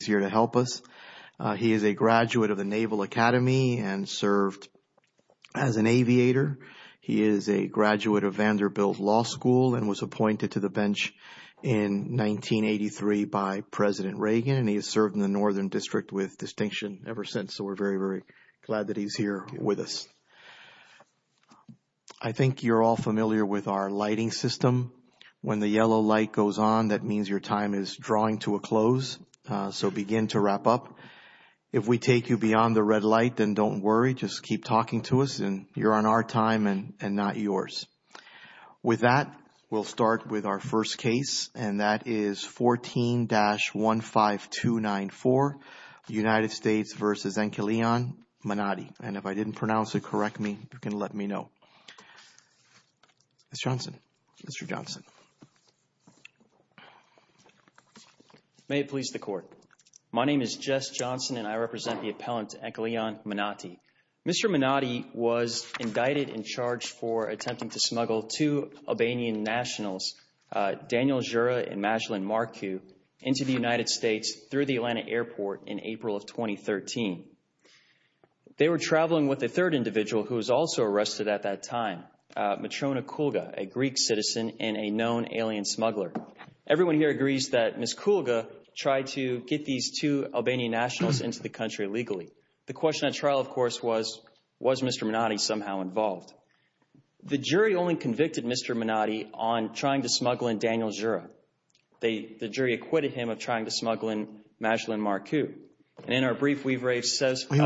is here to help us. He is a graduate of the Naval Academy and served as an aviator. He is a graduate of Vanderbilt Law School and was appointed to the bench in 1983 by President Reagan. He has served in the Northern District with distinction ever since, so we're very, very glad that he's here with us. I think you're all familiar with our lighting system. When the yellow light goes on, that means your time is drawing to a close, so begin to wrap up. If we take you beyond the red light, then don't worry. Just keep talking to us, and you're on our time and not yours. With that, we'll start with our first case, and that is 14-15294, United States v. Enkeleon Manati. And if I didn't pronounce it correctly, you can let me know. Mr. Johnson, Mr. Johnson. May it please the Court. My name is Jess Johnson, and I represent the appellant Enkeleon Manati. Mr. Manati was indicted and charged for attempting to smuggle two Albanian nationals, Daniel Jura and Majlin Marku, into the United States through the Atlanta airport in April of 2013. They were also arrested at that time, Matrona Kulga, a Greek citizen and a known alien smuggler. Everyone here agrees that Ms. Kulga tried to get these two Albanian nationals into the country legally. The question at trial, of course, was, was Mr. Manati somehow involved? The jury only convicted Mr. Manati on trying to smuggle in Daniel Jura. They, the jury acquitted him of trying to smuggle in Majlin Marku. And in our brief, we've raised He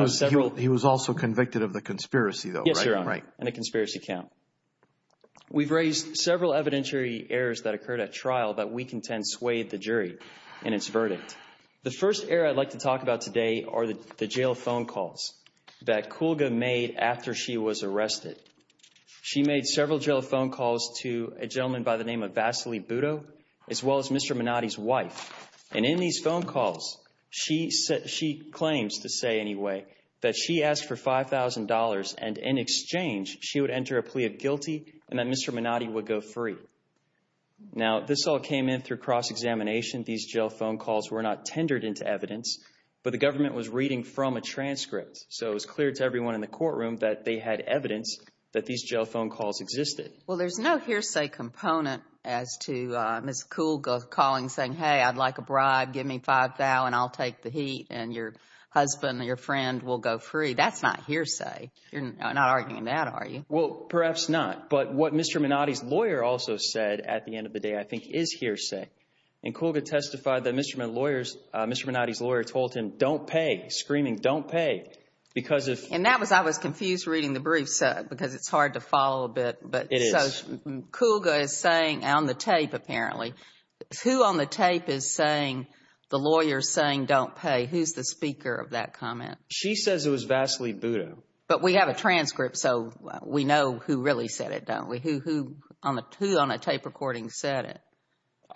was also convicted of the conspiracy, though, right? Yes, Your Honor, and a conspiracy count. We've raised several evidentiary errors that occurred at trial that we contend swayed the jury in its verdict. The first error I'd like to talk about today are the jail phone calls that Kulga made after she was arrested. She made several jail phone calls to a gentleman by the name of Vasily Budo, as well as Mr. Manati's wife. And in these phone calls, she claims, to say anyway, that she asked for $5,000 and in exchange, she would enter a plea of guilty and that Mr. Manati would go free. Now, this all came in through cross-examination. These jail phone calls were not tendered into evidence, but the government was reading from a transcript. So it was clear to everyone in the courtroom that they had evidence that these jail phone calls existed. Well, there's no hearsay component as to Ms. Kulga calling, saying, hey, I'd like a bribe, give me $5,000, I'll take the heat, and your husband or your friend will go free. That's not hearsay. You're not arguing that, are you? Well, perhaps not. But what Mr. Manati's lawyer also said at the end of the day, I think is hearsay. And Kulga testified that Mr. Manati's lawyer told him, don't pay, screaming, don't pay. And that was, I was confused reading the brief, because it's hard to follow a bit. So Kulga is saying, on the tape apparently, who on the tape is saying, the lawyer's saying, don't pay? Who's the speaker of that comment? She says it was Vasily Buda. But we have a transcript, so we know who really said it, don't we? Who on a tape recording said it?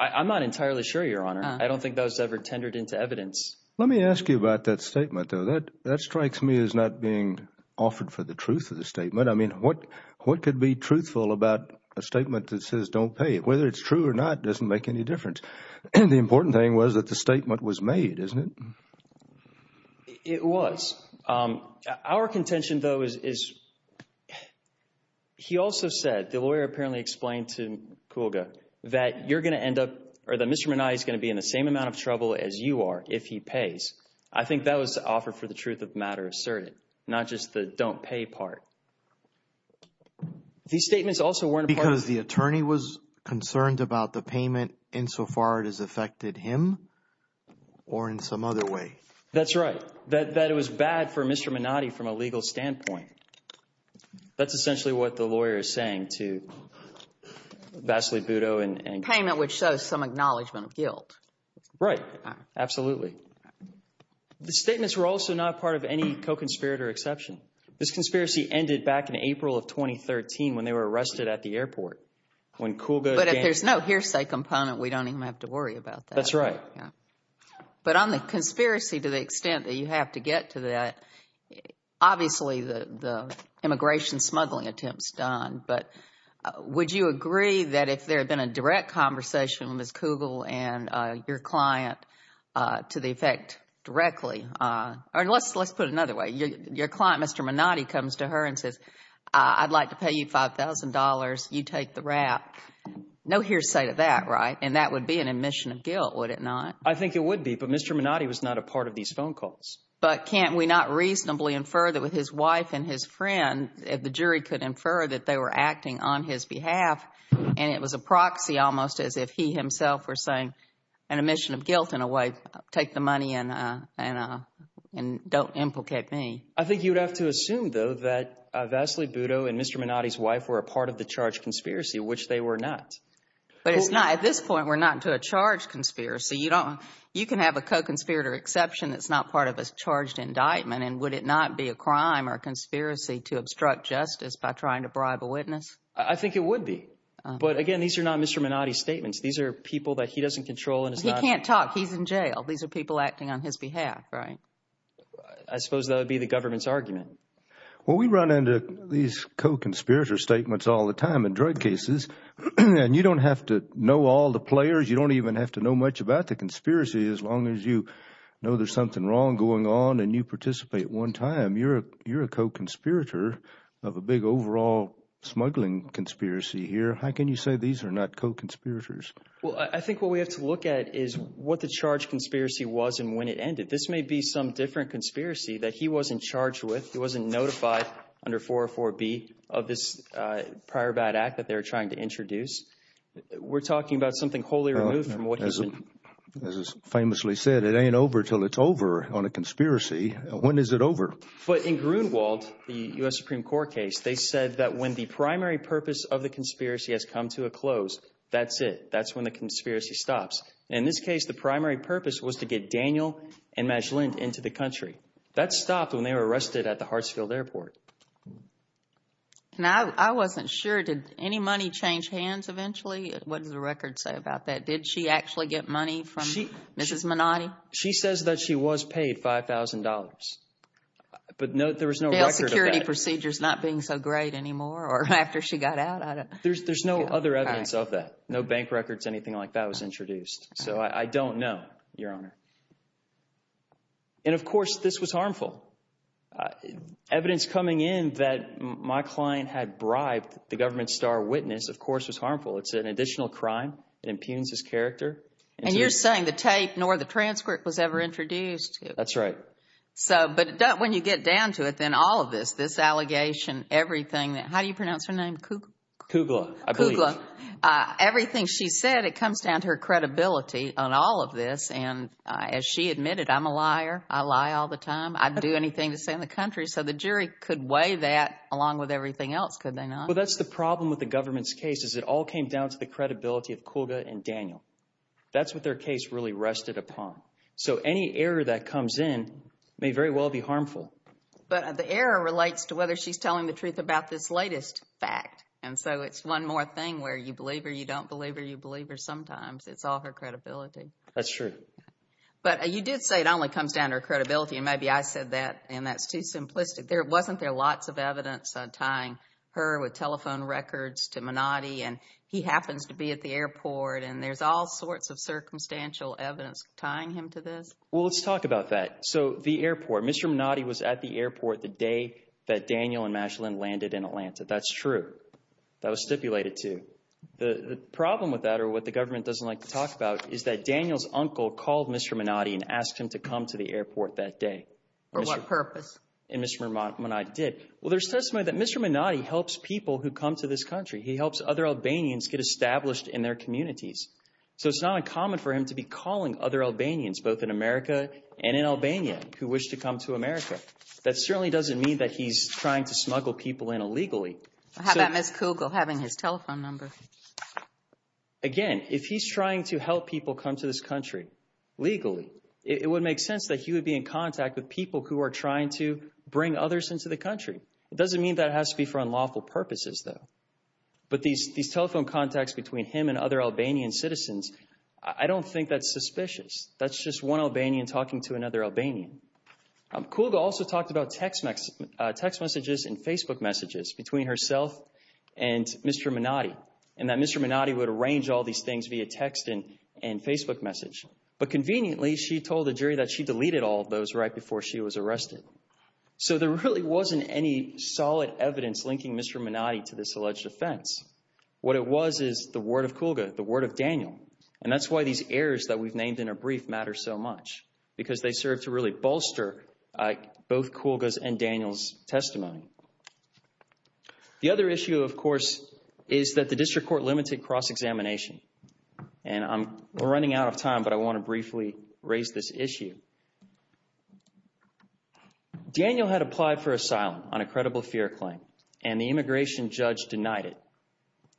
I'm not entirely sure, Your Honor. I don't think that was ever tendered into evidence. Let me ask you about that statement, though. That strikes me as not being offered for the truth of the statement. I mean, what could be truthful about a statement that says, don't pay? Whether it's true or not doesn't make any difference. The important thing was that the statement was made, isn't it? It was. Our contention, though, is he also said, the lawyer apparently explained to Kulga, that you're going to end up, or that Mr. Manati's going to be in the same amount of trouble as you if he pays. I think that was the offer for the truth of the matter asserted, not just the don't pay part. These statements also weren't a part of... Because the attorney was concerned about the payment insofar it has affected him or in some other way. That's right. That it was bad for Mr. Manati from a legal standpoint. That's essentially what the lawyer is saying to Vasily Buda and... Payment which shows some acknowledgement of guilt. Right. Absolutely. The statements were also not part of any co-conspirator exception. This conspiracy ended back in April of 2013 when they were arrested at the airport, when Kulga... But if there's no hearsay component, we don't even have to worry about that. That's right. But on the conspiracy, to the extent that you have to get to that, obviously the immigration smuggling attempts done, but would you agree that if there had been a direct conversation with Ms. Kulga and your client to the effect directly... Let's put it another way. Your client, Mr. Manati, comes to her and says, I'd like to pay you $5,000. You take the rap. No hearsay to that, right? And that would be an admission of guilt, would it not? I think it would be, but Mr. Manati was not a part of these phone calls. But can't we not reasonably infer that with his wife and his friend, if the jury could infer that they were acting on his behalf and it was a proxy, almost as if he himself were saying an admission of guilt in a way, take the money and don't implicate me. I think you'd have to assume, though, that Vasily Budo and Mr. Manati's wife were a part of the charged conspiracy, which they were not. But it's not. At this point, we're not into a charged conspiracy. You can have a co-conspirator exception that's not part of a charged indictment, and would it not be a crime or a conspiracy to But again, these are not Mr. Manati's statements. These are people that he doesn't control. And he can't talk. He's in jail. These are people acting on his behalf, right? I suppose that would be the government's argument. Well, we run into these co-conspirator statements all the time in drug cases, and you don't have to know all the players. You don't even have to know much about the conspiracy as long as you know there's something wrong going on and you participate one time. You're a co-conspirator of a big overall smuggling conspiracy here. How can you say these are not co-conspirators? Well, I think what we have to look at is what the charged conspiracy was and when it ended. This may be some different conspiracy that he wasn't charged with. He wasn't notified under 404B of this prior bad act that they were trying to introduce. We're talking about something wholly removed from what he's been... As is famously said, it ain't over till it's over on a conspiracy. When is it over? But in Grunewald, the U.S. Supreme Court case, they said that when the primary purpose of the conspiracy has come to a close, that's it. That's when the conspiracy stops. In this case, the primary purpose was to get Daniel and Magellan into the country. That stopped when they were arrested at the Hartsfield Airport. Now, I wasn't sure. Did any money change hands eventually? What does the record say about that? Did she actually get money from Mrs. Minotti? She says that she was paid $5,000, but there was no record of that. Security procedures not being so great anymore or after she got out? There's no other evidence of that. No bank records, anything like that was introduced. So I don't know, Your Honor. And of course, this was harmful. Evidence coming in that my client had bribed the government star witness, of course, was harmful. It's an additional crime. It impugns his character. And you're saying the tape nor the transcript was ever introduced. That's right. But when you get down to it, then all of this, this allegation, everything, how do you pronounce her name? Kugla. Kugla, I believe. Kugla. Everything she said, it comes down to her credibility on all of this. And as she admitted, I'm a liar. I lie all the time. I'd do anything to stay in the country. So the jury could weigh that along with everything else, could they not? Well, that's the problem with the government's case is it all came down to the credibility of Kugla and Daniel. That's what their case really rested upon. So any error that comes in may very well be harmful. But the error relates to whether she's telling the truth about this latest fact. And so it's one more thing where you believe or you don't believe or you believe her sometimes. It's all her credibility. That's true. But you did say it only comes down to her credibility. And maybe I said that and that's too simplistic. There wasn't there lots of evidence tying her with telephone records to Menotti and he happens to be at the airport. And there's all sorts of circumstantial evidence tying him to this. Well, let's talk about that. So the airport, Mr. Menotti was at the airport the day that Daniel and Magellan landed in Atlanta. That's true. That was stipulated to the problem with that or what the government doesn't like to talk about is that Daniel's uncle called Mr. Menotti and asked him to come to the Well, there's testimony that Mr. Menotti helps people who come to this country. He helps other Albanians get established in their communities. So it's not uncommon for him to be calling other Albanians, both in America and in Albania, who wish to come to America. That certainly doesn't mean that he's trying to smuggle people in illegally. How about Ms. Kugel having his telephone number? Again, if he's trying to help people come to this country legally, it would make sense that he would be in contact with people who are trying to It doesn't mean that it has to be for unlawful purposes, though. But these telephone contacts between him and other Albanian citizens, I don't think that's suspicious. That's just one Albanian talking to another Albanian. Kugel also talked about text messages and Facebook messages between herself and Mr. Menotti and that Mr. Menotti would arrange all these things via text and Facebook message. But conveniently, she told the jury that she deleted all of those right before she was arrested. So there really wasn't any solid evidence linking Mr. Menotti to this alleged offense. What it was is the word of Kugel, the word of Daniel. And that's why these errors that we've named in our brief matter so much, because they serve to really bolster both Kugel's and Daniel's testimony. The other issue, of course, is that the district court limited cross-examination. And I'm running out of time, but I want to briefly raise this issue. Daniel had applied for asylum on a credible fear claim, and the immigration judge denied it.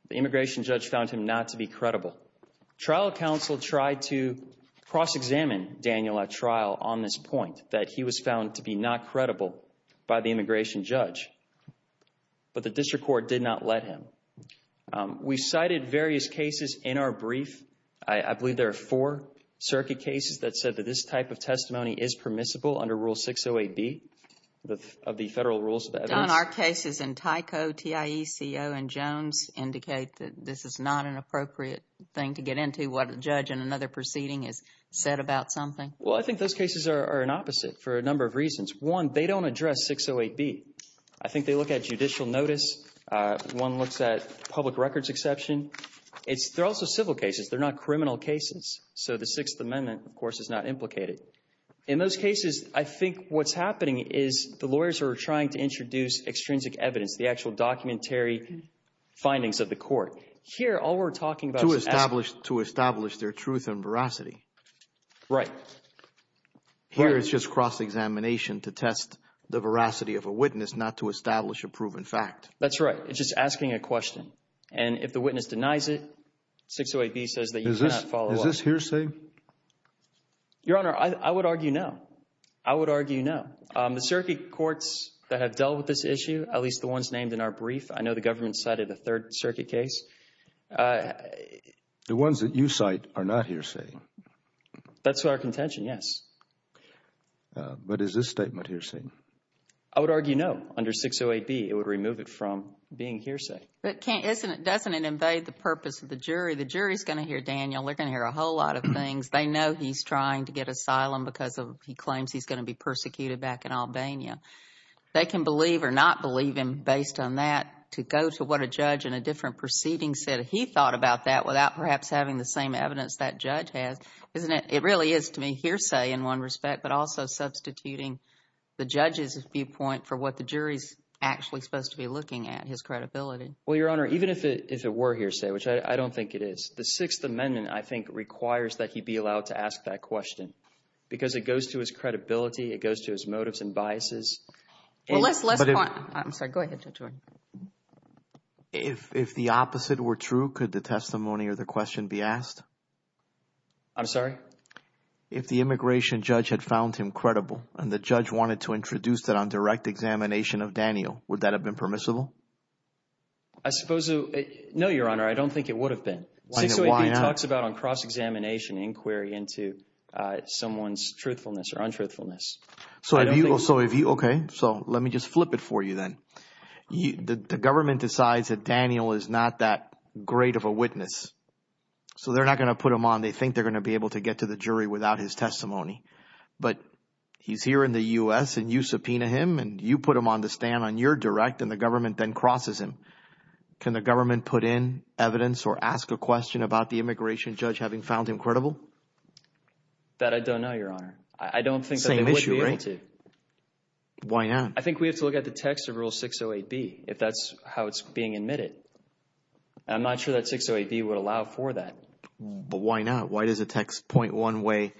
The immigration judge found him not to be credible. Trial counsel tried to cross-examine Daniel at trial on this point, that he was found to be not credible by the immigration judge. But the district court did not let him. We cited various cases in our brief. I believe there are circuit cases that said that this type of testimony is permissible under Rule 608B of the Federal Rules of Evidence. Don, our cases in Tyco, TIECO, and Jones indicate that this is not an appropriate thing to get into what a judge in another proceeding has said about something. Well, I think those cases are an opposite for a number of reasons. One, they don't address 608B. I think they look at judicial notice. One looks at public records exception. They're also civil cases. They're not criminal cases. So the Sixth Amendment, of course, is not implicated. In those cases, I think what's happening is the lawyers are trying to introduce extrinsic evidence, the actual documentary findings of the court. Here, all we're talking about is— To establish their truth and veracity. Right. Here, it's just cross-examination to test the veracity of a witness, not to establish a proven fact. That's right. It's just asking a question. And if the witness denies it, 608B says that you cannot follow up. Is this hearsay? Your Honor, I would argue no. I would argue no. The circuit courts that have dealt with this issue, at least the ones named in our brief, I know the government cited a Third Circuit case. The ones that you cite are not hearsay. That's our contention, yes. But is this statement hearsay? I would argue no. Under 608B, it would remove it from being hearsay. Doesn't it invade the purpose of the jury? The jury's going to hear, Daniel, they're going to hear a whole lot of things. They know he's trying to get asylum because he claims he's going to be persecuted back in Albania. They can believe or not believe him based on that. To go to what a judge in a different proceeding said, he thought about that without perhaps having the same evidence that judge has, isn't it— the judge's viewpoint for what the jury's actually supposed to be looking at, his credibility. Well, Your Honor, even if it were hearsay, which I don't think it is, the Sixth Amendment, I think, requires that he be allowed to ask that question. Because it goes to his credibility. It goes to his motives and biases. Well, let's point—I'm sorry. Go ahead, Judge Warren. If the opposite were true, could the testimony or the question be asked? I'm sorry? If the immigration judge had found him credible and the judge wanted to introduce that on direct examination of Daniel, would that have been permissible? I suppose—no, Your Honor. I don't think it would have been. Why not? Sixth Amendment talks about on cross-examination, inquiry into someone's truthfulness or untruthfulness. So if you—okay. So let me just flip it for you then. The government decides that Daniel is not that great of a witness. So they're not going to put him on. They think they're going to be able to get to the jury without his testimony. But he's here in the U.S. and you subpoena him and you put him on the stand on your direct and the government then crosses him. Can the government put in evidence or ask a question about the immigration judge having found him credible? That I don't know, Your Honor. I don't think that they would be able to. Same issue, right? Why not? I think we have to look at the text of Rule 608B, if that's how it's being admitted. I'm not sure that 608B would allow for that. But why not? Why does the text point one way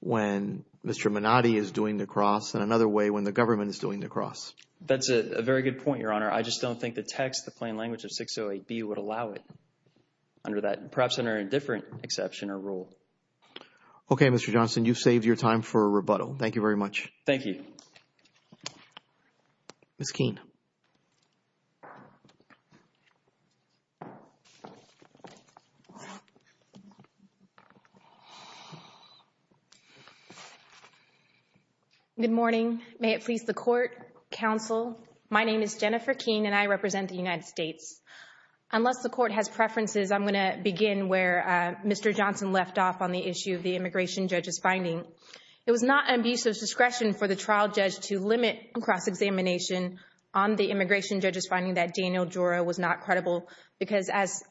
when Mr. Menotti is doing the cross and another way when the government is doing the cross? That's a very good point, Your Honor. I just don't think the text, the plain language of 608B would allow it under that, perhaps under a different exception or rule. Okay, Mr. Johnson. You've saved your time for a rebuttal. Thank you very much. Thank you. Ms. Keene. Good morning. May it please the Court, Counsel. My name is Jennifer Keene and I represent the United States. Unless the Court has preferences, I'm going to begin where Mr. Johnson left off on the issue of the immigration judge's finding. It was not an abuse of discretion for the trial judge to limit cross-examination on the immigration judge's finding that Daniel Jura was not credible. Because as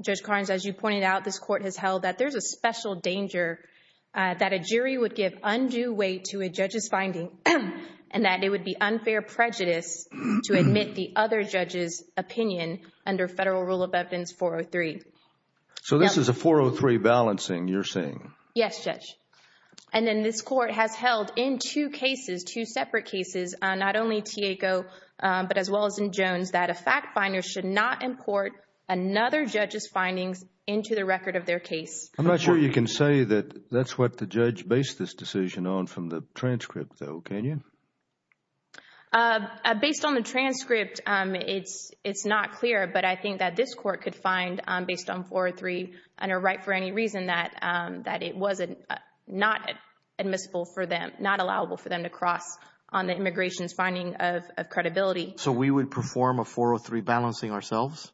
Judge Carnes, as you pointed out, this Court has held that there's a special danger that a jury would give undue weight to a judge's finding and that it would be unfair prejudice to admit the other judge's opinion under Federal Rule of Evidence 403. So this is a 403 balancing you're saying? Yes, Judge. And then this Court has held in two cases, two separate cases, not only Tieco but as should not import another judge's findings into the record of their case. I'm not sure you can say that that's what the judge based this decision on from the transcript though, can you? Based on the transcript, it's not clear. But I think that this Court could find based on 403 under right for any reason that it was not admissible for them, not allowable for them to cross on the immigration's finding of credibility. So we would perform a 403 balancing ourselves?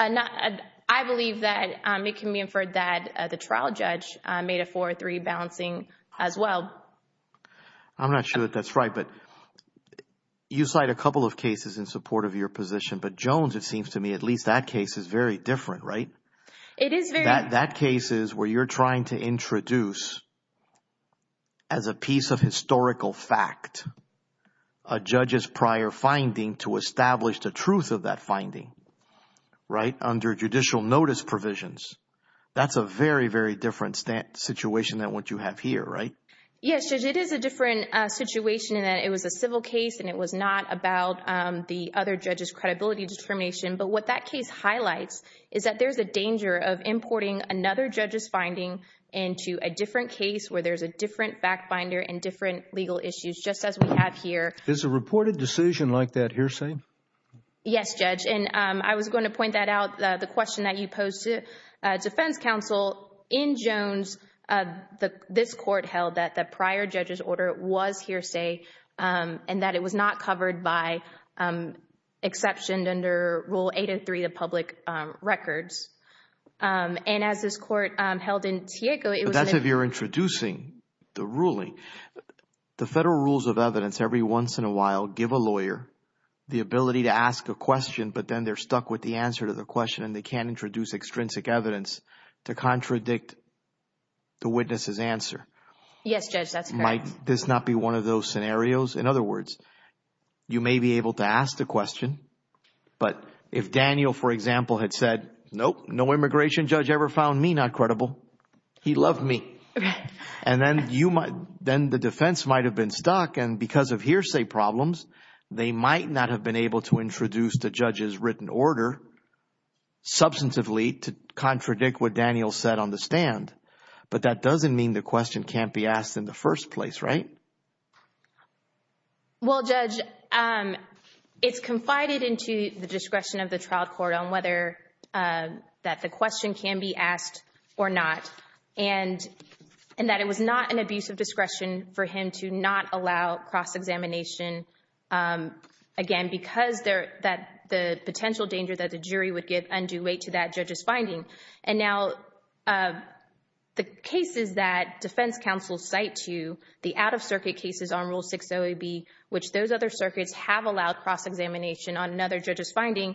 I believe that it can be inferred that the trial judge made a 403 balancing as well. I'm not sure that that's right. But you cite a couple of cases in support of your position. But Jones, it seems to me, at least that case is very different, right? It is very. That case is where you're trying to introduce as a piece of historical fact, a judge's prior finding to establish the truth of that finding, right? Under judicial notice provisions. That's a very, very different situation than what you have here, right? Yes, Judge. It is a different situation in that it was a civil case and it was not about the other judge's credibility determination. But what that case highlights is that there's a danger of importing another judge's finding into a different case where there's a different fact finder and different legal issues, just as we have here. Is a reported decision like that hearsay? Yes, Judge. And I was going to point that out, the question that you posed to defense counsel. In Jones, this court held that the prior judge's order was hearsay and that it was not covered by exception under Rule 803 of public records. And as this court held in Tiego, it was- That's if you're introducing the ruling. The federal rules of evidence every once in a while give a lawyer the ability to ask a question, but then they're stuck with the answer to the question and they can't introduce extrinsic evidence to contradict the witness's answer. Yes, Judge. That's correct. Might this not be one of those scenarios? In other words, you may be able to ask the question, but if Daniel, for example, had said, nope, no immigration judge ever found me not credible. He loved me. And then the defense might have been stuck. And because of hearsay problems, they might not have been able to introduce the judge's written order substantively to contradict what Daniel said on the stand. But that doesn't mean the question can't be asked in the first place, right? Well, Judge, it's confided into the discretion of the trial court on whether that the question can be asked or not, and that it was not an abuse of discretion for him to not allow cross-examination, again, because the potential danger that the jury would give undue weight to that judge's finding. And now the cases that defense counsel cite to you, the out-of-circuit cases on Rule 60AB, which those other circuits have allowed cross-examination on another judge's finding,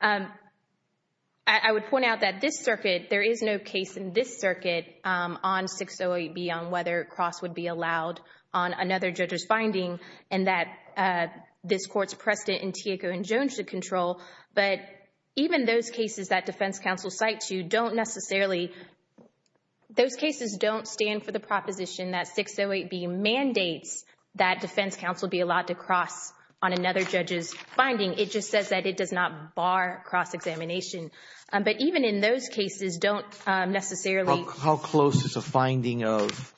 I would point out that this circuit, there is no case in this circuit on 60AB on whether cross would be allowed on another judge's finding and that this court's precedent in Tieco and Jones should control. But even those cases that defense counsel cite to you don't necessarily, those cases don't stand for the proposition that 60AB mandates that defense counsel be allowed to cross on another judge's finding. It just says that it does not bar cross-examination. But even in those cases don't necessarily— How close is a finding of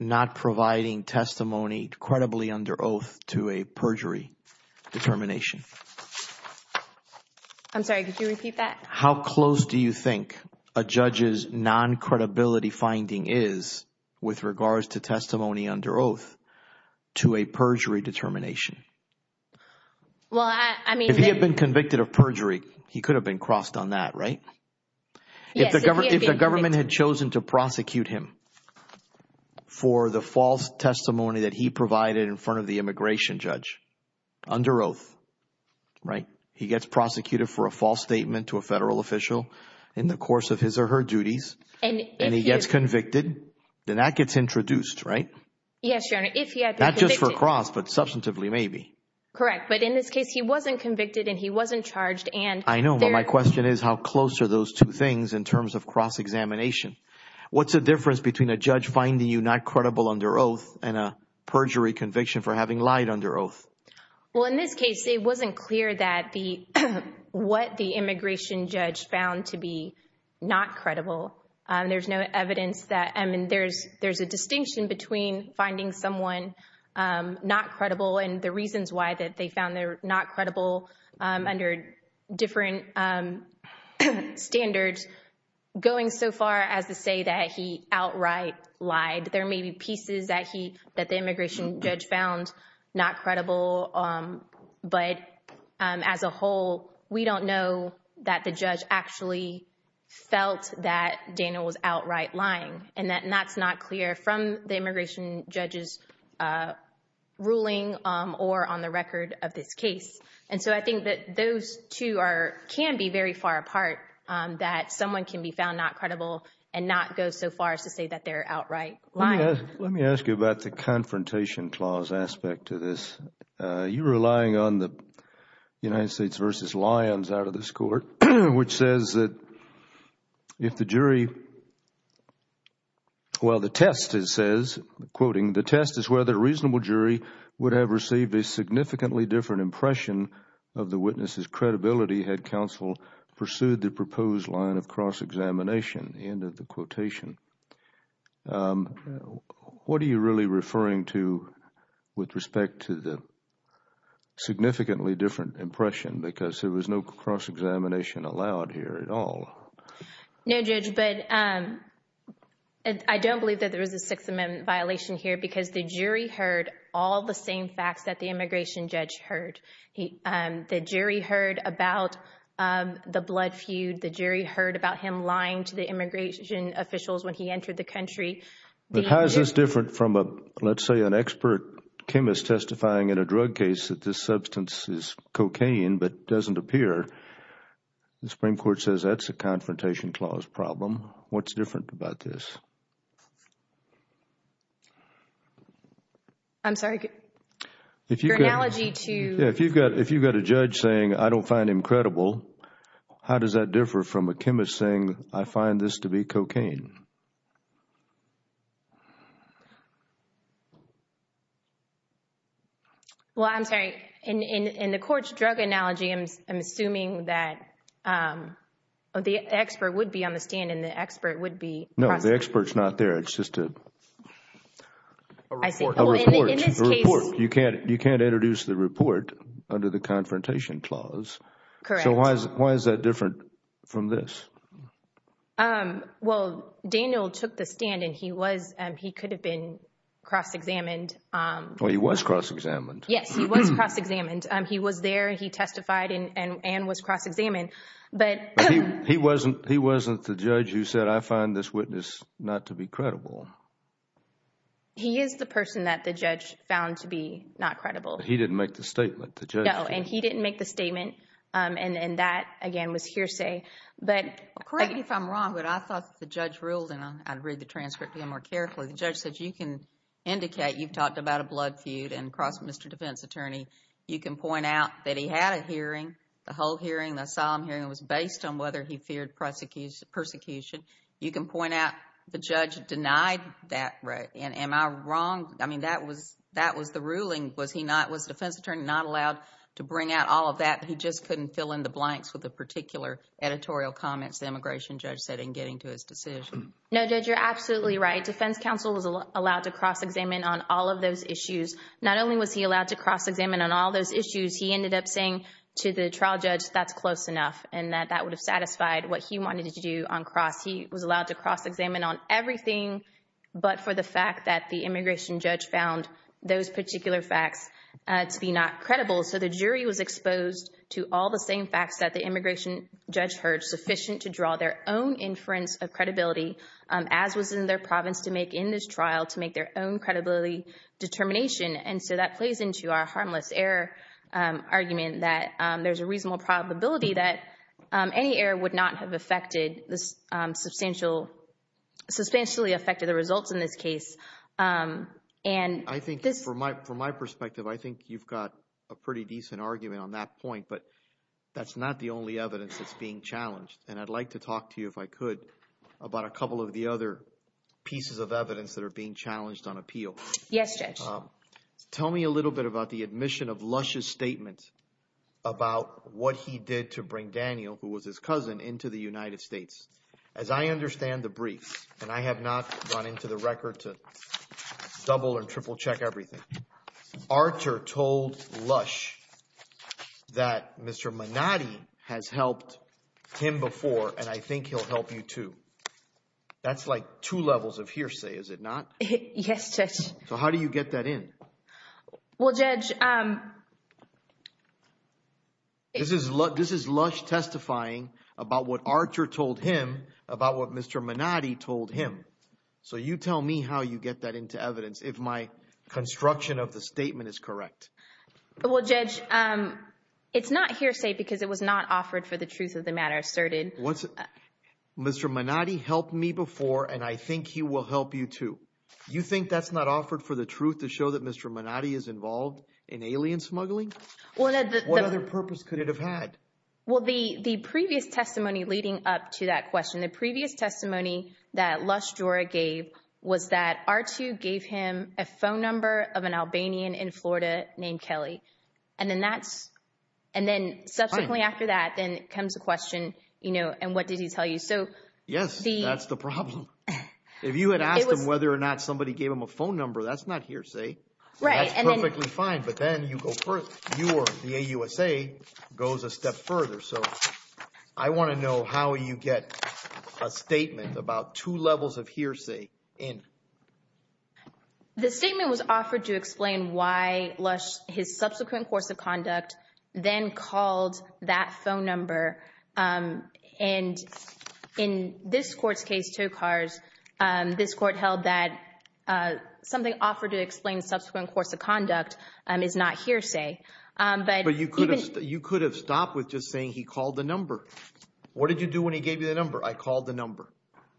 not providing testimony credibly under oath to a perjury determination? I'm sorry, could you repeat that? How close do you think a judge's non-credibility finding is with regards to testimony under oath to a perjury determination? Well, I mean— If he had been convicted of perjury, he could have been crossed on that, right? If the government had chosen to prosecute him for the false testimony that he provided in front of the immigration judge under oath, right? He gets prosecuted for a false statement to a federal official in the course of his or her duties and he gets convicted, then that gets introduced, right? Yes, Your Honor, if he had been convicted— Correct. But in this case, he wasn't convicted and he wasn't charged and— I know, but my question is how close are those two things in terms of cross-examination? What's the difference between a judge finding you not credible under oath and a perjury conviction for having lied under oath? Well, in this case, it wasn't clear what the immigration judge found to be not credible. There's no evidence that—I mean, there's a distinction between finding someone not credible under oath and a perjury conviction for having lied under oath, but there's reasons why that they found they're not credible under different standards, going so far as to say that he outright lied. There may be pieces that he—that the immigration judge found not credible, but as a whole, we don't know that the judge actually felt that Daniel was outright lying and that's not clear from the immigration judge's ruling or on the record of this case. And so I think that those two are—can be very far apart, that someone can be found not credible and not go so far as to say that they're outright lying. Let me ask you about the confrontation clause aspect to this. You're relying on the United States v. Lyons out of this court, which says that if the jury—well, the test, it says, quoting, the test is whether a reasonable jury would have received a significantly different impression of the witness's credibility had counsel pursued the proposed line of cross-examination, end of the quotation. What are you really referring to with respect to the significantly different impression because there was no cross-examination allowed here at all? No, Judge, but I don't believe that there was a Sixth Amendment violation here because the jury heard all the same facts that the immigration judge heard. The jury heard about the blood feud. The jury heard about him lying to the immigration officials when he entered the country. But how is this different from, let's say, an expert chemist testifying in a drug case that this substance is cocaine but doesn't appear? The Supreme Court says that's a confrontation clause problem. What's different about this? I'm sorry, your analogy to— From a chemist saying, I find this to be cocaine. Well, I'm sorry. In the court's drug analogy, I'm assuming that the expert would be on the stand and the expert would be— No, the expert's not there. It's just a report. You can't introduce the report under the confrontation clause. Correct. Why is that different from this? Well, Daniel took the stand and he could have been cross-examined. Well, he was cross-examined. Yes, he was cross-examined. He was there. He testified and was cross-examined. He wasn't the judge who said, I find this witness not to be credible. He is the person that the judge found to be not credible. He didn't make the statement. No, and he didn't make the statement. And that, again, was hearsay. But— Correct me if I'm wrong, but I thought the judge ruled, and I'll read the transcript to you more carefully. The judge said, you can indicate you've talked about a blood feud and crossed Mr. Defense Attorney. You can point out that he had a hearing, the whole hearing, the solemn hearing was based on whether he feared persecution. You can point out the judge denied that. Am I wrong? I mean, that was the ruling. Was the defense attorney not allowed to bring out all of that? He just couldn't fill in the blanks with the particular editorial comments the immigration judge said in getting to his decision? No, Judge, you're absolutely right. Defense counsel was allowed to cross-examine on all of those issues. Not only was he allowed to cross-examine on all those issues, he ended up saying to the trial judge that's close enough and that that would have satisfied what he wanted to do on cross. He was allowed to cross-examine on everything but for the fact that the immigration judge found those particular facts to be not credible. So the jury was exposed to all the same facts that the immigration judge heard sufficient to draw their own inference of credibility as was in their province to make in this trial to make their own credibility determination. And so that plays into our harmless error argument that there's a reasonable probability that any error would not have affected this substantial, substantially affected the results in this case. And I think for my perspective, I think you've got a pretty decent argument on that point, but that's not the only evidence that's being challenged. And I'd like to talk to you, if I could, about a couple of the other pieces of evidence that are being challenged on appeal. Yes, Judge. Tell me a little bit about the admission of Lush's statement about what he did to bring Daniel, who was his cousin, into the United States. As I understand the brief, and I have not gone into the record to double and triple check everything, Archer told Lush that Mr. Manatti has helped him before, and I think he'll help you too. That's like two levels of hearsay, is it not? Yes, Judge. So how do you get that in? Well, Judge... This is Lush testifying about what Archer told him about what Mr. Manatti told him. So you tell me how you get that into evidence, if my construction of the statement is correct. Well, Judge, it's not hearsay because it was not offered for the truth of the matter asserted. Mr. Manatti helped me before, and I think he will help you too. You think that's not offered for the truth to show that Mr. Manatti is involved in alien smuggling? What other purpose could it have had? Well, the previous testimony leading up to that question, the previous testimony that Lush Jorah gave was that Archer gave him a phone number of an Albanian in Florida named Kelly. And then subsequently after that, then comes the question, and what did he tell you? Yes, that's the problem. If you had asked him whether or not somebody gave him a phone number, that's not hearsay. That's perfectly fine, but then you go further. The AUSA goes a step further. So I want to know how you get a statement about two levels of hearsay in. The statement was offered to explain why Lush, his subsequent course of conduct, then called that phone number. And in this court's case, Tokars, this court held that something offered to explain subsequent course of conduct is not hearsay. But you could have stopped with just saying he called the number. What did you do when he gave you the number? I called the number.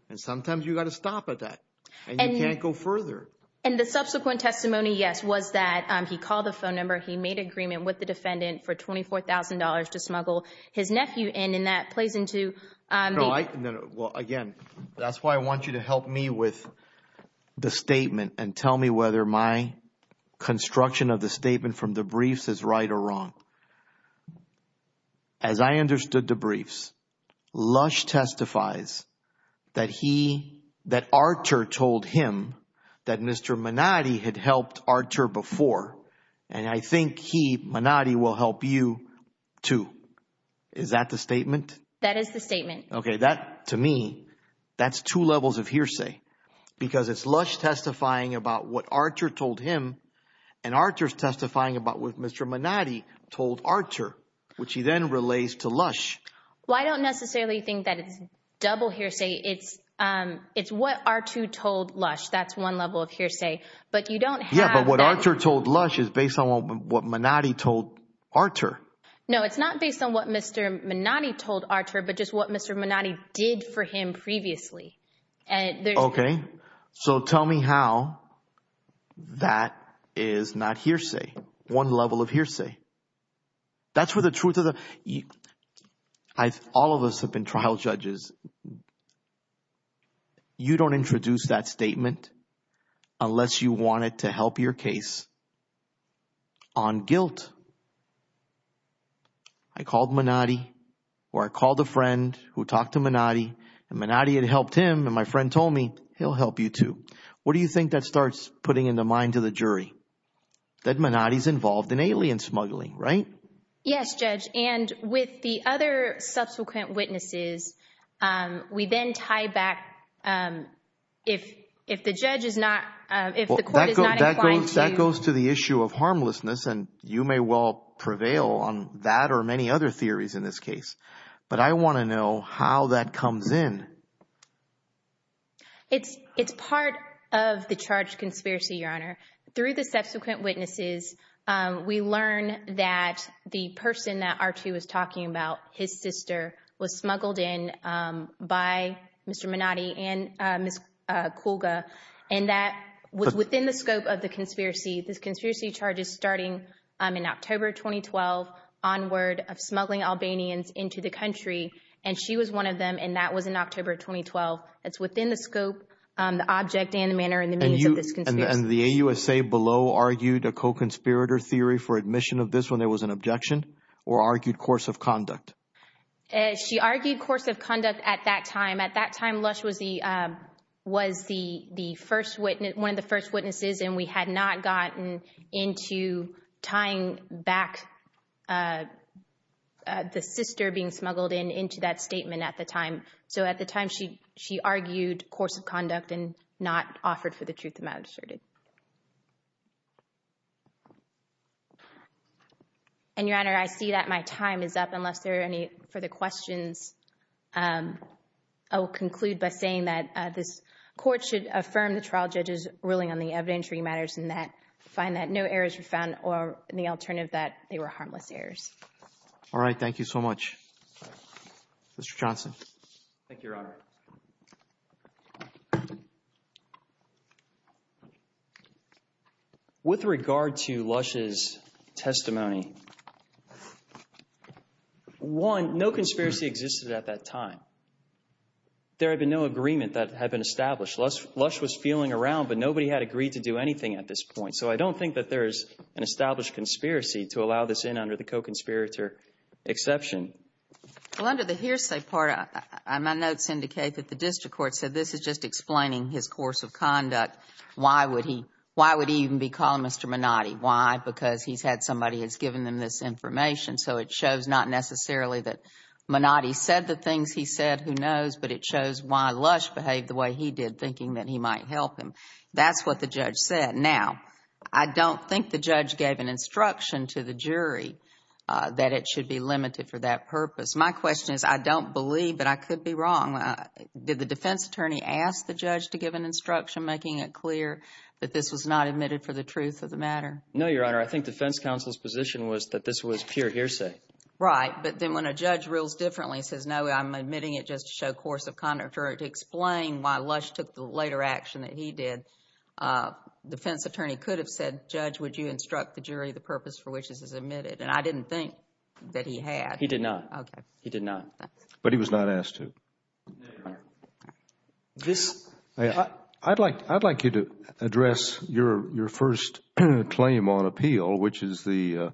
And sometimes you got to stop at that, and you can't go further. And the subsequent testimony, yes, was that he called the phone number, he made agreement with the defendant for $24,000 to smuggle his nephew in, and that plays into. No, no. Well, again, that's why I want you to help me with the statement and tell me whether my construction of the statement from the briefs is right or wrong. As I understood the briefs, Lush testifies that he, that Archer told him that Mr. Manatti had helped Archer before. And I think he, Manatti, will help you too. Is that the statement? That is the statement. Okay. That, to me, that's two levels of hearsay, because it's Lush testifying about what Archer told him, and Archer's testifying about what Mr. Manatti told Archer, which he then relays to Lush. Well, I don't necessarily think that it's double hearsay. It's what Archer told Lush. That's one level of hearsay. But you don't have- Yeah, but what Archer told Lush is based on what Manatti told Archer. No, it's not based on what Mr. Manatti told Archer, but just what Mr. Manatti did for him previously. And there's- Okay. So tell me how that is not hearsay. One level of hearsay. That's where the truth of the... All of us have been trial judges. You don't introduce that statement unless you want it to help your case on guilt. I called Manatti, or I called a friend who talked to Manatti, and Manatti had helped him, and my friend told me, he'll help you too. What do you think that starts putting in the mind of the jury? That Manatti's involved in alien smuggling, right? Yes, Judge. And with the other subsequent witnesses, we then tie back, if the judge is not, if the court is not inclined to- That goes to the issue of harmlessness, and you may well prevail on that or many other theories in this case. But I want to know how that comes in. It's part of the charged conspiracy, Your Honor. Through the subsequent witnesses, we learn that the person that Archer was talking about, his sister, was smuggled in by Mr. Manatti and Ms. Kulga, and that was within the scope of the conspiracy. This conspiracy charge is starting in October of 2012, onward of smuggling Albanians into the country, and she was one of them, and that was in October of 2012. That's within the scope, the object, and the manner, and the means of this conspiracy. And the AUSA below argued a co-conspirator theory for admission of this when there was an objection, or argued course of conduct? She argued course of conduct at that time. At that time, Lush was the first witness, one of the first witnesses, and we had not gotten into tying back the sister being smuggled in into that statement at the time. So at the time, she argued course of conduct and not offered for the questions. I will conclude by saying that this court should affirm the trial judge's ruling on the evidentiary matters, and find that no errors were found, or the alternative that they were harmless errors. All right, thank you so much. Mr. Johnson. Thank you, Your Honor. With regard to Lush's testimony, one, no conspiracy existed at that time. There had been no agreement that had been established. Lush was feeling around, but nobody had agreed to do anything at this point. So I don't think that there is an established conspiracy to allow this in under the co-conspirator exception. Well, under the hearsay part, my notes indicate that the his course of conduct, why would he even be calling Mr. Minotti? Why? Because he's had somebody has given them this information. So it shows not necessarily that Minotti said the things he said, who knows, but it shows why Lush behaved the way he did, thinking that he might help him. That's what the judge said. Now, I don't think the judge gave an instruction to the jury that it should be limited for that purpose. My question is, I don't believe, but I could be wrong. Did the defense attorney ask the judge to give an instruction, making it clear that this was not admitted for the truth of the matter? No, Your Honor. I think defense counsel's position was that this was pure hearsay. Right. But then when a judge rules differently and says, no, I'm admitting it just to show course of conduct or to explain why Lush took the later action that he did, defense attorney could have said, judge, would you instruct the jury the purpose for which this is admitted? And I didn't think that he had. He did not. He did not. But he was not asked to. Your Honor, I'd like you to address your first claim on appeal, which is the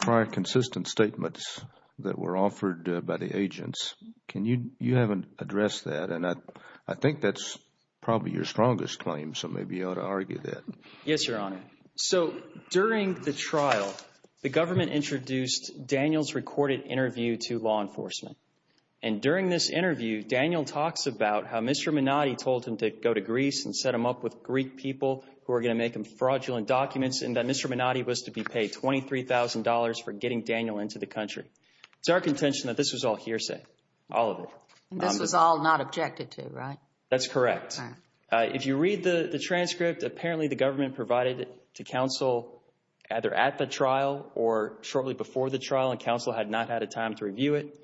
prior consistent statements that were offered by the agents. You haven't addressed that, and I think that's probably your strongest claim, so maybe you ought to argue that. Yes, Your Honor. So during the trial, the government introduced Daniel's recorded interview to law enforcement, and during this interview, Daniel talks about how Mr. Minotti told him to go to Greece and set him up with Greek people who were going to make him fraudulent documents, and that Mr. Minotti was to be paid $23,000 for getting Daniel into the country. It's our contention that this was all hearsay, all of it. This was all not objected to, right? That's correct. If you read the transcript, apparently the government provided it to counsel either at the trial or shortly before the trial, and counsel had not had a time to review it.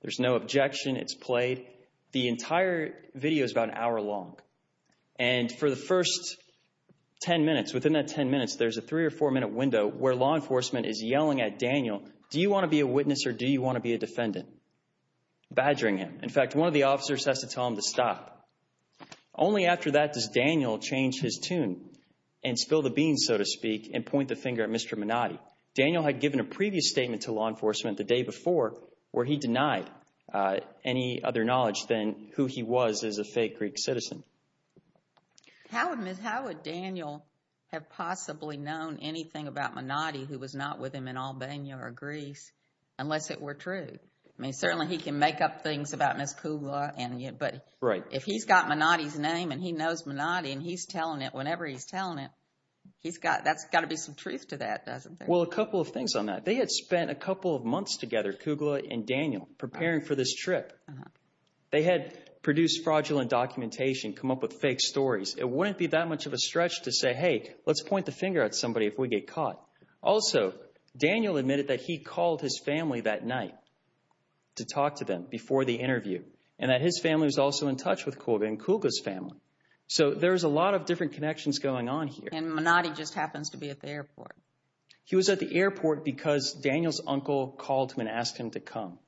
There's no objection. It's played. The entire video is about an hour long, and for the first 10 minutes, within that 10 minutes, there's a three or four-minute window where law enforcement is yelling at Daniel, do you want to be a witness or do you want to be a defendant, badgering him. In fact, one of the officers has to tell him to stop. Only after that does Daniel change his tune and spill the beans, so to speak, and point the statement to law enforcement the day before where he denied any other knowledge than who he was as a fake Greek citizen. How would Daniel have possibly known anything about Minotti who was not with him in Albania or Greece unless it were true? I mean, certainly he can make up things about Ms. Kugla, but if he's got Minotti's name and he knows Minotti and he's telling it whenever he's telling it, that's got to be some truth to that, doesn't it? Well, a couple of things on that. They had spent a couple of months together, Kugla and Daniel, preparing for this trip. They had produced fraudulent documentation, come up with fake stories. It wouldn't be that much of a stretch to say, hey, let's point the finger at somebody if we get caught. Also, Daniel admitted that he called his family that night to talk to them before the interview and that his family was also in touch with Kugla and Kugla's family, so there's a lot of different connections going on here. And Minotti just happens to be at the airport. He was at the airport because Daniel's uncle called him and asked him to come.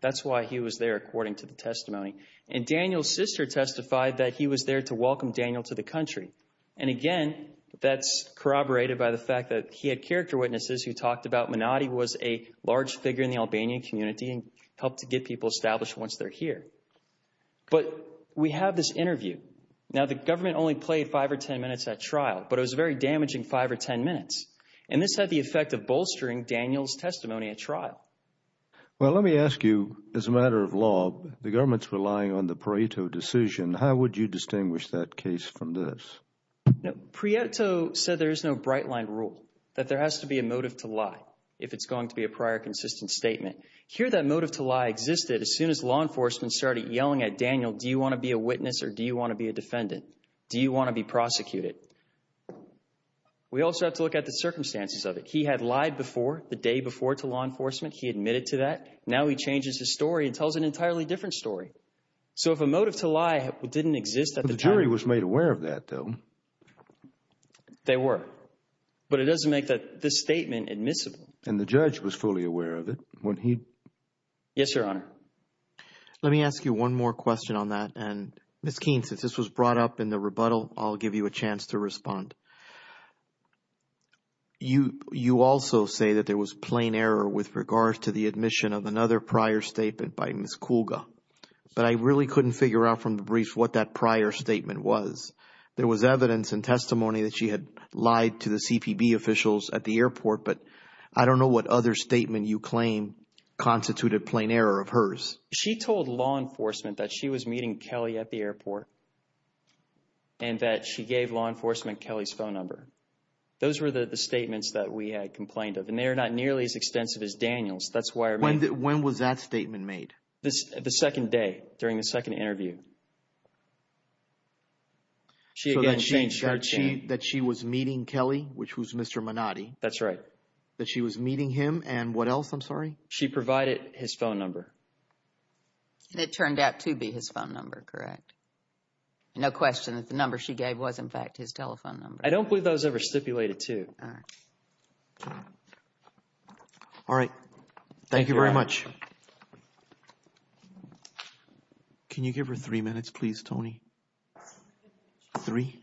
That's why he was there, according to the testimony. And Daniel's sister testified that he was there to welcome Daniel to the country. And again, that's corroborated by the fact that he had character witnesses who talked about Minotti was a large figure in the Albanian community and helped to get people established once they're here. But we have this minutes. And this had the effect of bolstering Daniel's testimony at trial. Well, let me ask you, as a matter of law, the government's relying on the Prieto decision. How would you distinguish that case from this? No, Prieto said there is no bright line rule, that there has to be a motive to lie if it's going to be a prior consistent statement. Here, that motive to lie existed as soon as law enforcement started yelling at Daniel, do you want to be a witness or do you want to be a defendant? Do you want to be prosecuted? We also have to look at the circumstances of it. He had lied before the day before to law enforcement. He admitted to that. Now he changes his story and tells an entirely different story. So if a motive to lie didn't exist at the time. The jury was made aware of that, though. They were. But it doesn't make that this statement admissible. And the judge was fully aware of it when he. Yes, Your Honor. Let me ask you one more question on that. And Ms. Keene, since this was brought up in the rebuttal, I'll give you a chance to respond. You you also say that there was plain error with regards to the admission of another prior statement by Ms. Kulga. But I really couldn't figure out from the briefs what that prior statement was. There was evidence and testimony that she had lied to the CPB officials at the airport. But I don't know what other statement you claim constituted plain error of hers. She told law enforcement that she was meeting Kelly at the airport. And that she gave law enforcement Kelly's phone number. Those were the statements that we had complained of. And they are not nearly as extensive as Daniel's. That's why. When when was that statement made? This the second day during the second interview. She again, she said that she was meeting Kelly, which was Mr. Manati. That's right. She provided his phone number. And it turned out to be his phone number, correct? No question that the number she gave was, in fact, his telephone number. I don't believe that was ever stipulated, too. All right. Thank you very much. Can you give her three minutes, please, Tony? Three.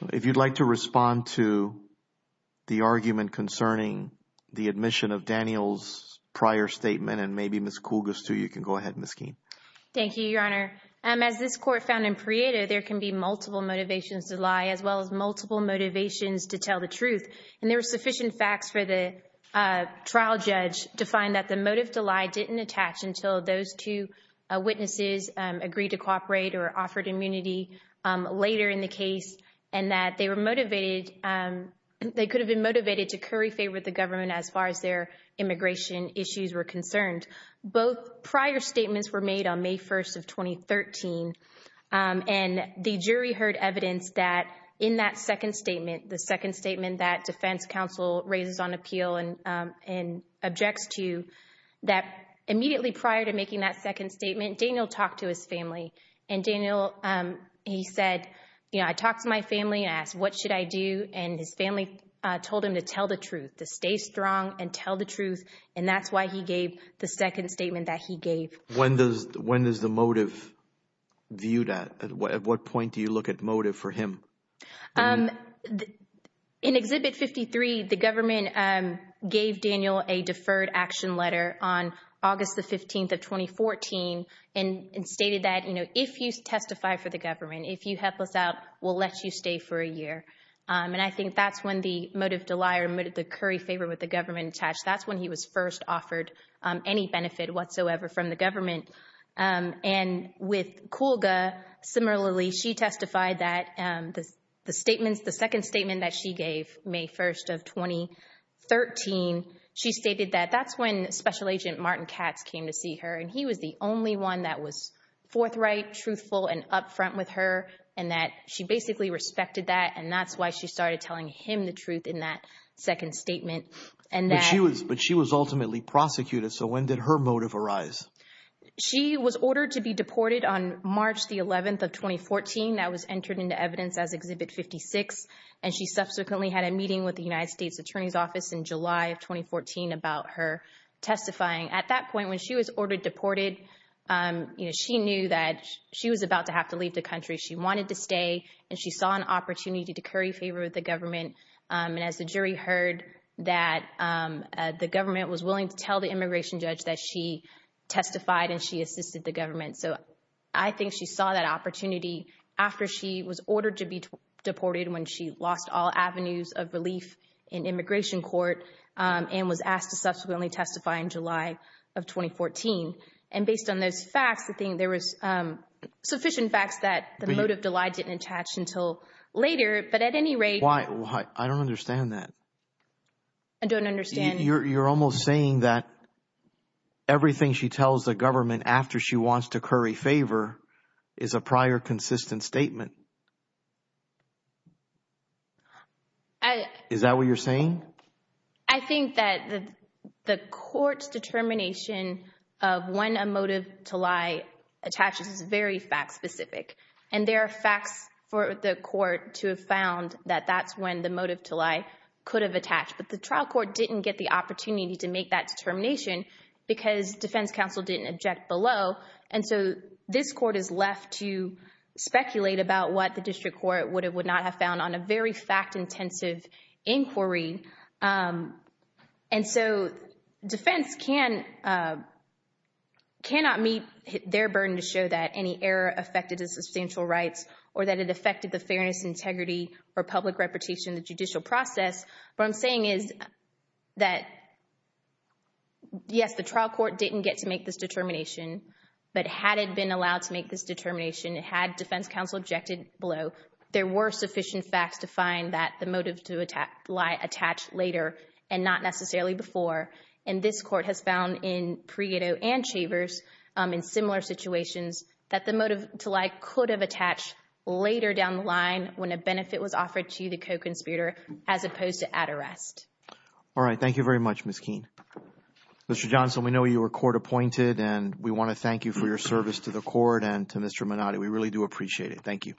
So if you'd like to respond to the argument concerning the admission of Daniel's prior statement and maybe Miss Kougas, too, you can go ahead, Miss Keene. Thank you, Your Honor. As this court found in Prieto, there can be multiple motivations to lie as well as multiple motivations to tell the truth. And there were sufficient facts for the trial judge to find that the motive to lie didn't attach until those two witnesses agreed to operate or offered immunity later in the case and that they were motivated. They could have been motivated to curry favor with the government as far as their immigration issues were concerned. Both prior statements were made on May 1st of 2013. And the jury heard evidence that in that second statement, the second statement that Defense Counsel raises on appeal and objects to, that immediately prior to making that second statement, Daniel talked to his family and Daniel, he said, you know, I talked to my family and asked, what should I do? And his family told him to tell the truth, to stay strong and tell the truth. And that's why he gave the second statement that he gave. When does the motive viewed at? At what point do you look at motive for him? In Exhibit 53, the government gave Daniel a deferred action letter on August the 15th of 2014 and stated that, you know, if you testify for the government, if you help us out, we'll let you stay for a year. And I think that's when the motive to lie or motive to curry favor with the government attached. That's when he was first offered any benefit whatsoever from the government. And with Kulga, similarly, she testified that the statements, the second statement that she gave May 1st of 2013, she stated that that's when Special Agent Martin Katz came to see her. And he was the only one that was forthright, truthful and up front with her and that she basically respected that. And that's why she started telling him the truth in that second statement. And she was but she was ultimately prosecuted. So when did her motive arise? She was ordered to be deported on March the 11th of 2014. That was entered into evidence as Exhibit 56. And she subsequently had a meeting with the United States Attorney's Office in July of 2014 about her testifying. At that point, when she was ordered deported, she knew that she was about to have to leave the country. She wanted to stay and she saw an opportunity to curry favor with the government. And as the jury heard that the government was willing to tell the immigration judge that she testified and she assisted the government. So I think she saw that opportunity after she was ordered to be deported when she lost all avenues of relief in immigration court and was asked to subsequently testify in July of 2014. And based on those facts, I think there was sufficient facts that the motive delight didn't attach until later. But at any rate. Why? I don't understand that. I don't understand. You're almost saying that everything she tells the government after she wants to curry favor is a prior consistent statement. Is that what you're saying? I think that the court's determination of when a motive to lie attaches is very fact specific. And there are facts for the court to have found that that's when the motive to lie could have attached. But the trial court didn't get the opportunity to make that determination because defense counsel didn't object below. And so this court is left to think about what the district court would have would not have found on a very fact intensive inquiry. And so defense cannot meet their burden to show that any error affected the substantial rights or that it affected the fairness, integrity, or public reputation in the judicial process. But I'm saying is that. Yes, the trial court didn't get to make this below. There were sufficient facts to find that the motive to attack lie attached later and not necessarily before. And this court has found in Prieto and Chavers in similar situations that the motive to lie could have attached later down the line when a benefit was offered to the co-conspirator as opposed to at arrest. All right. Thank you very much, Miss Keene. Mr. Johnson, we know you were court appointed and we want to thank you for your service to the court and to Mr. Minotti. We really appreciate it. Thank you.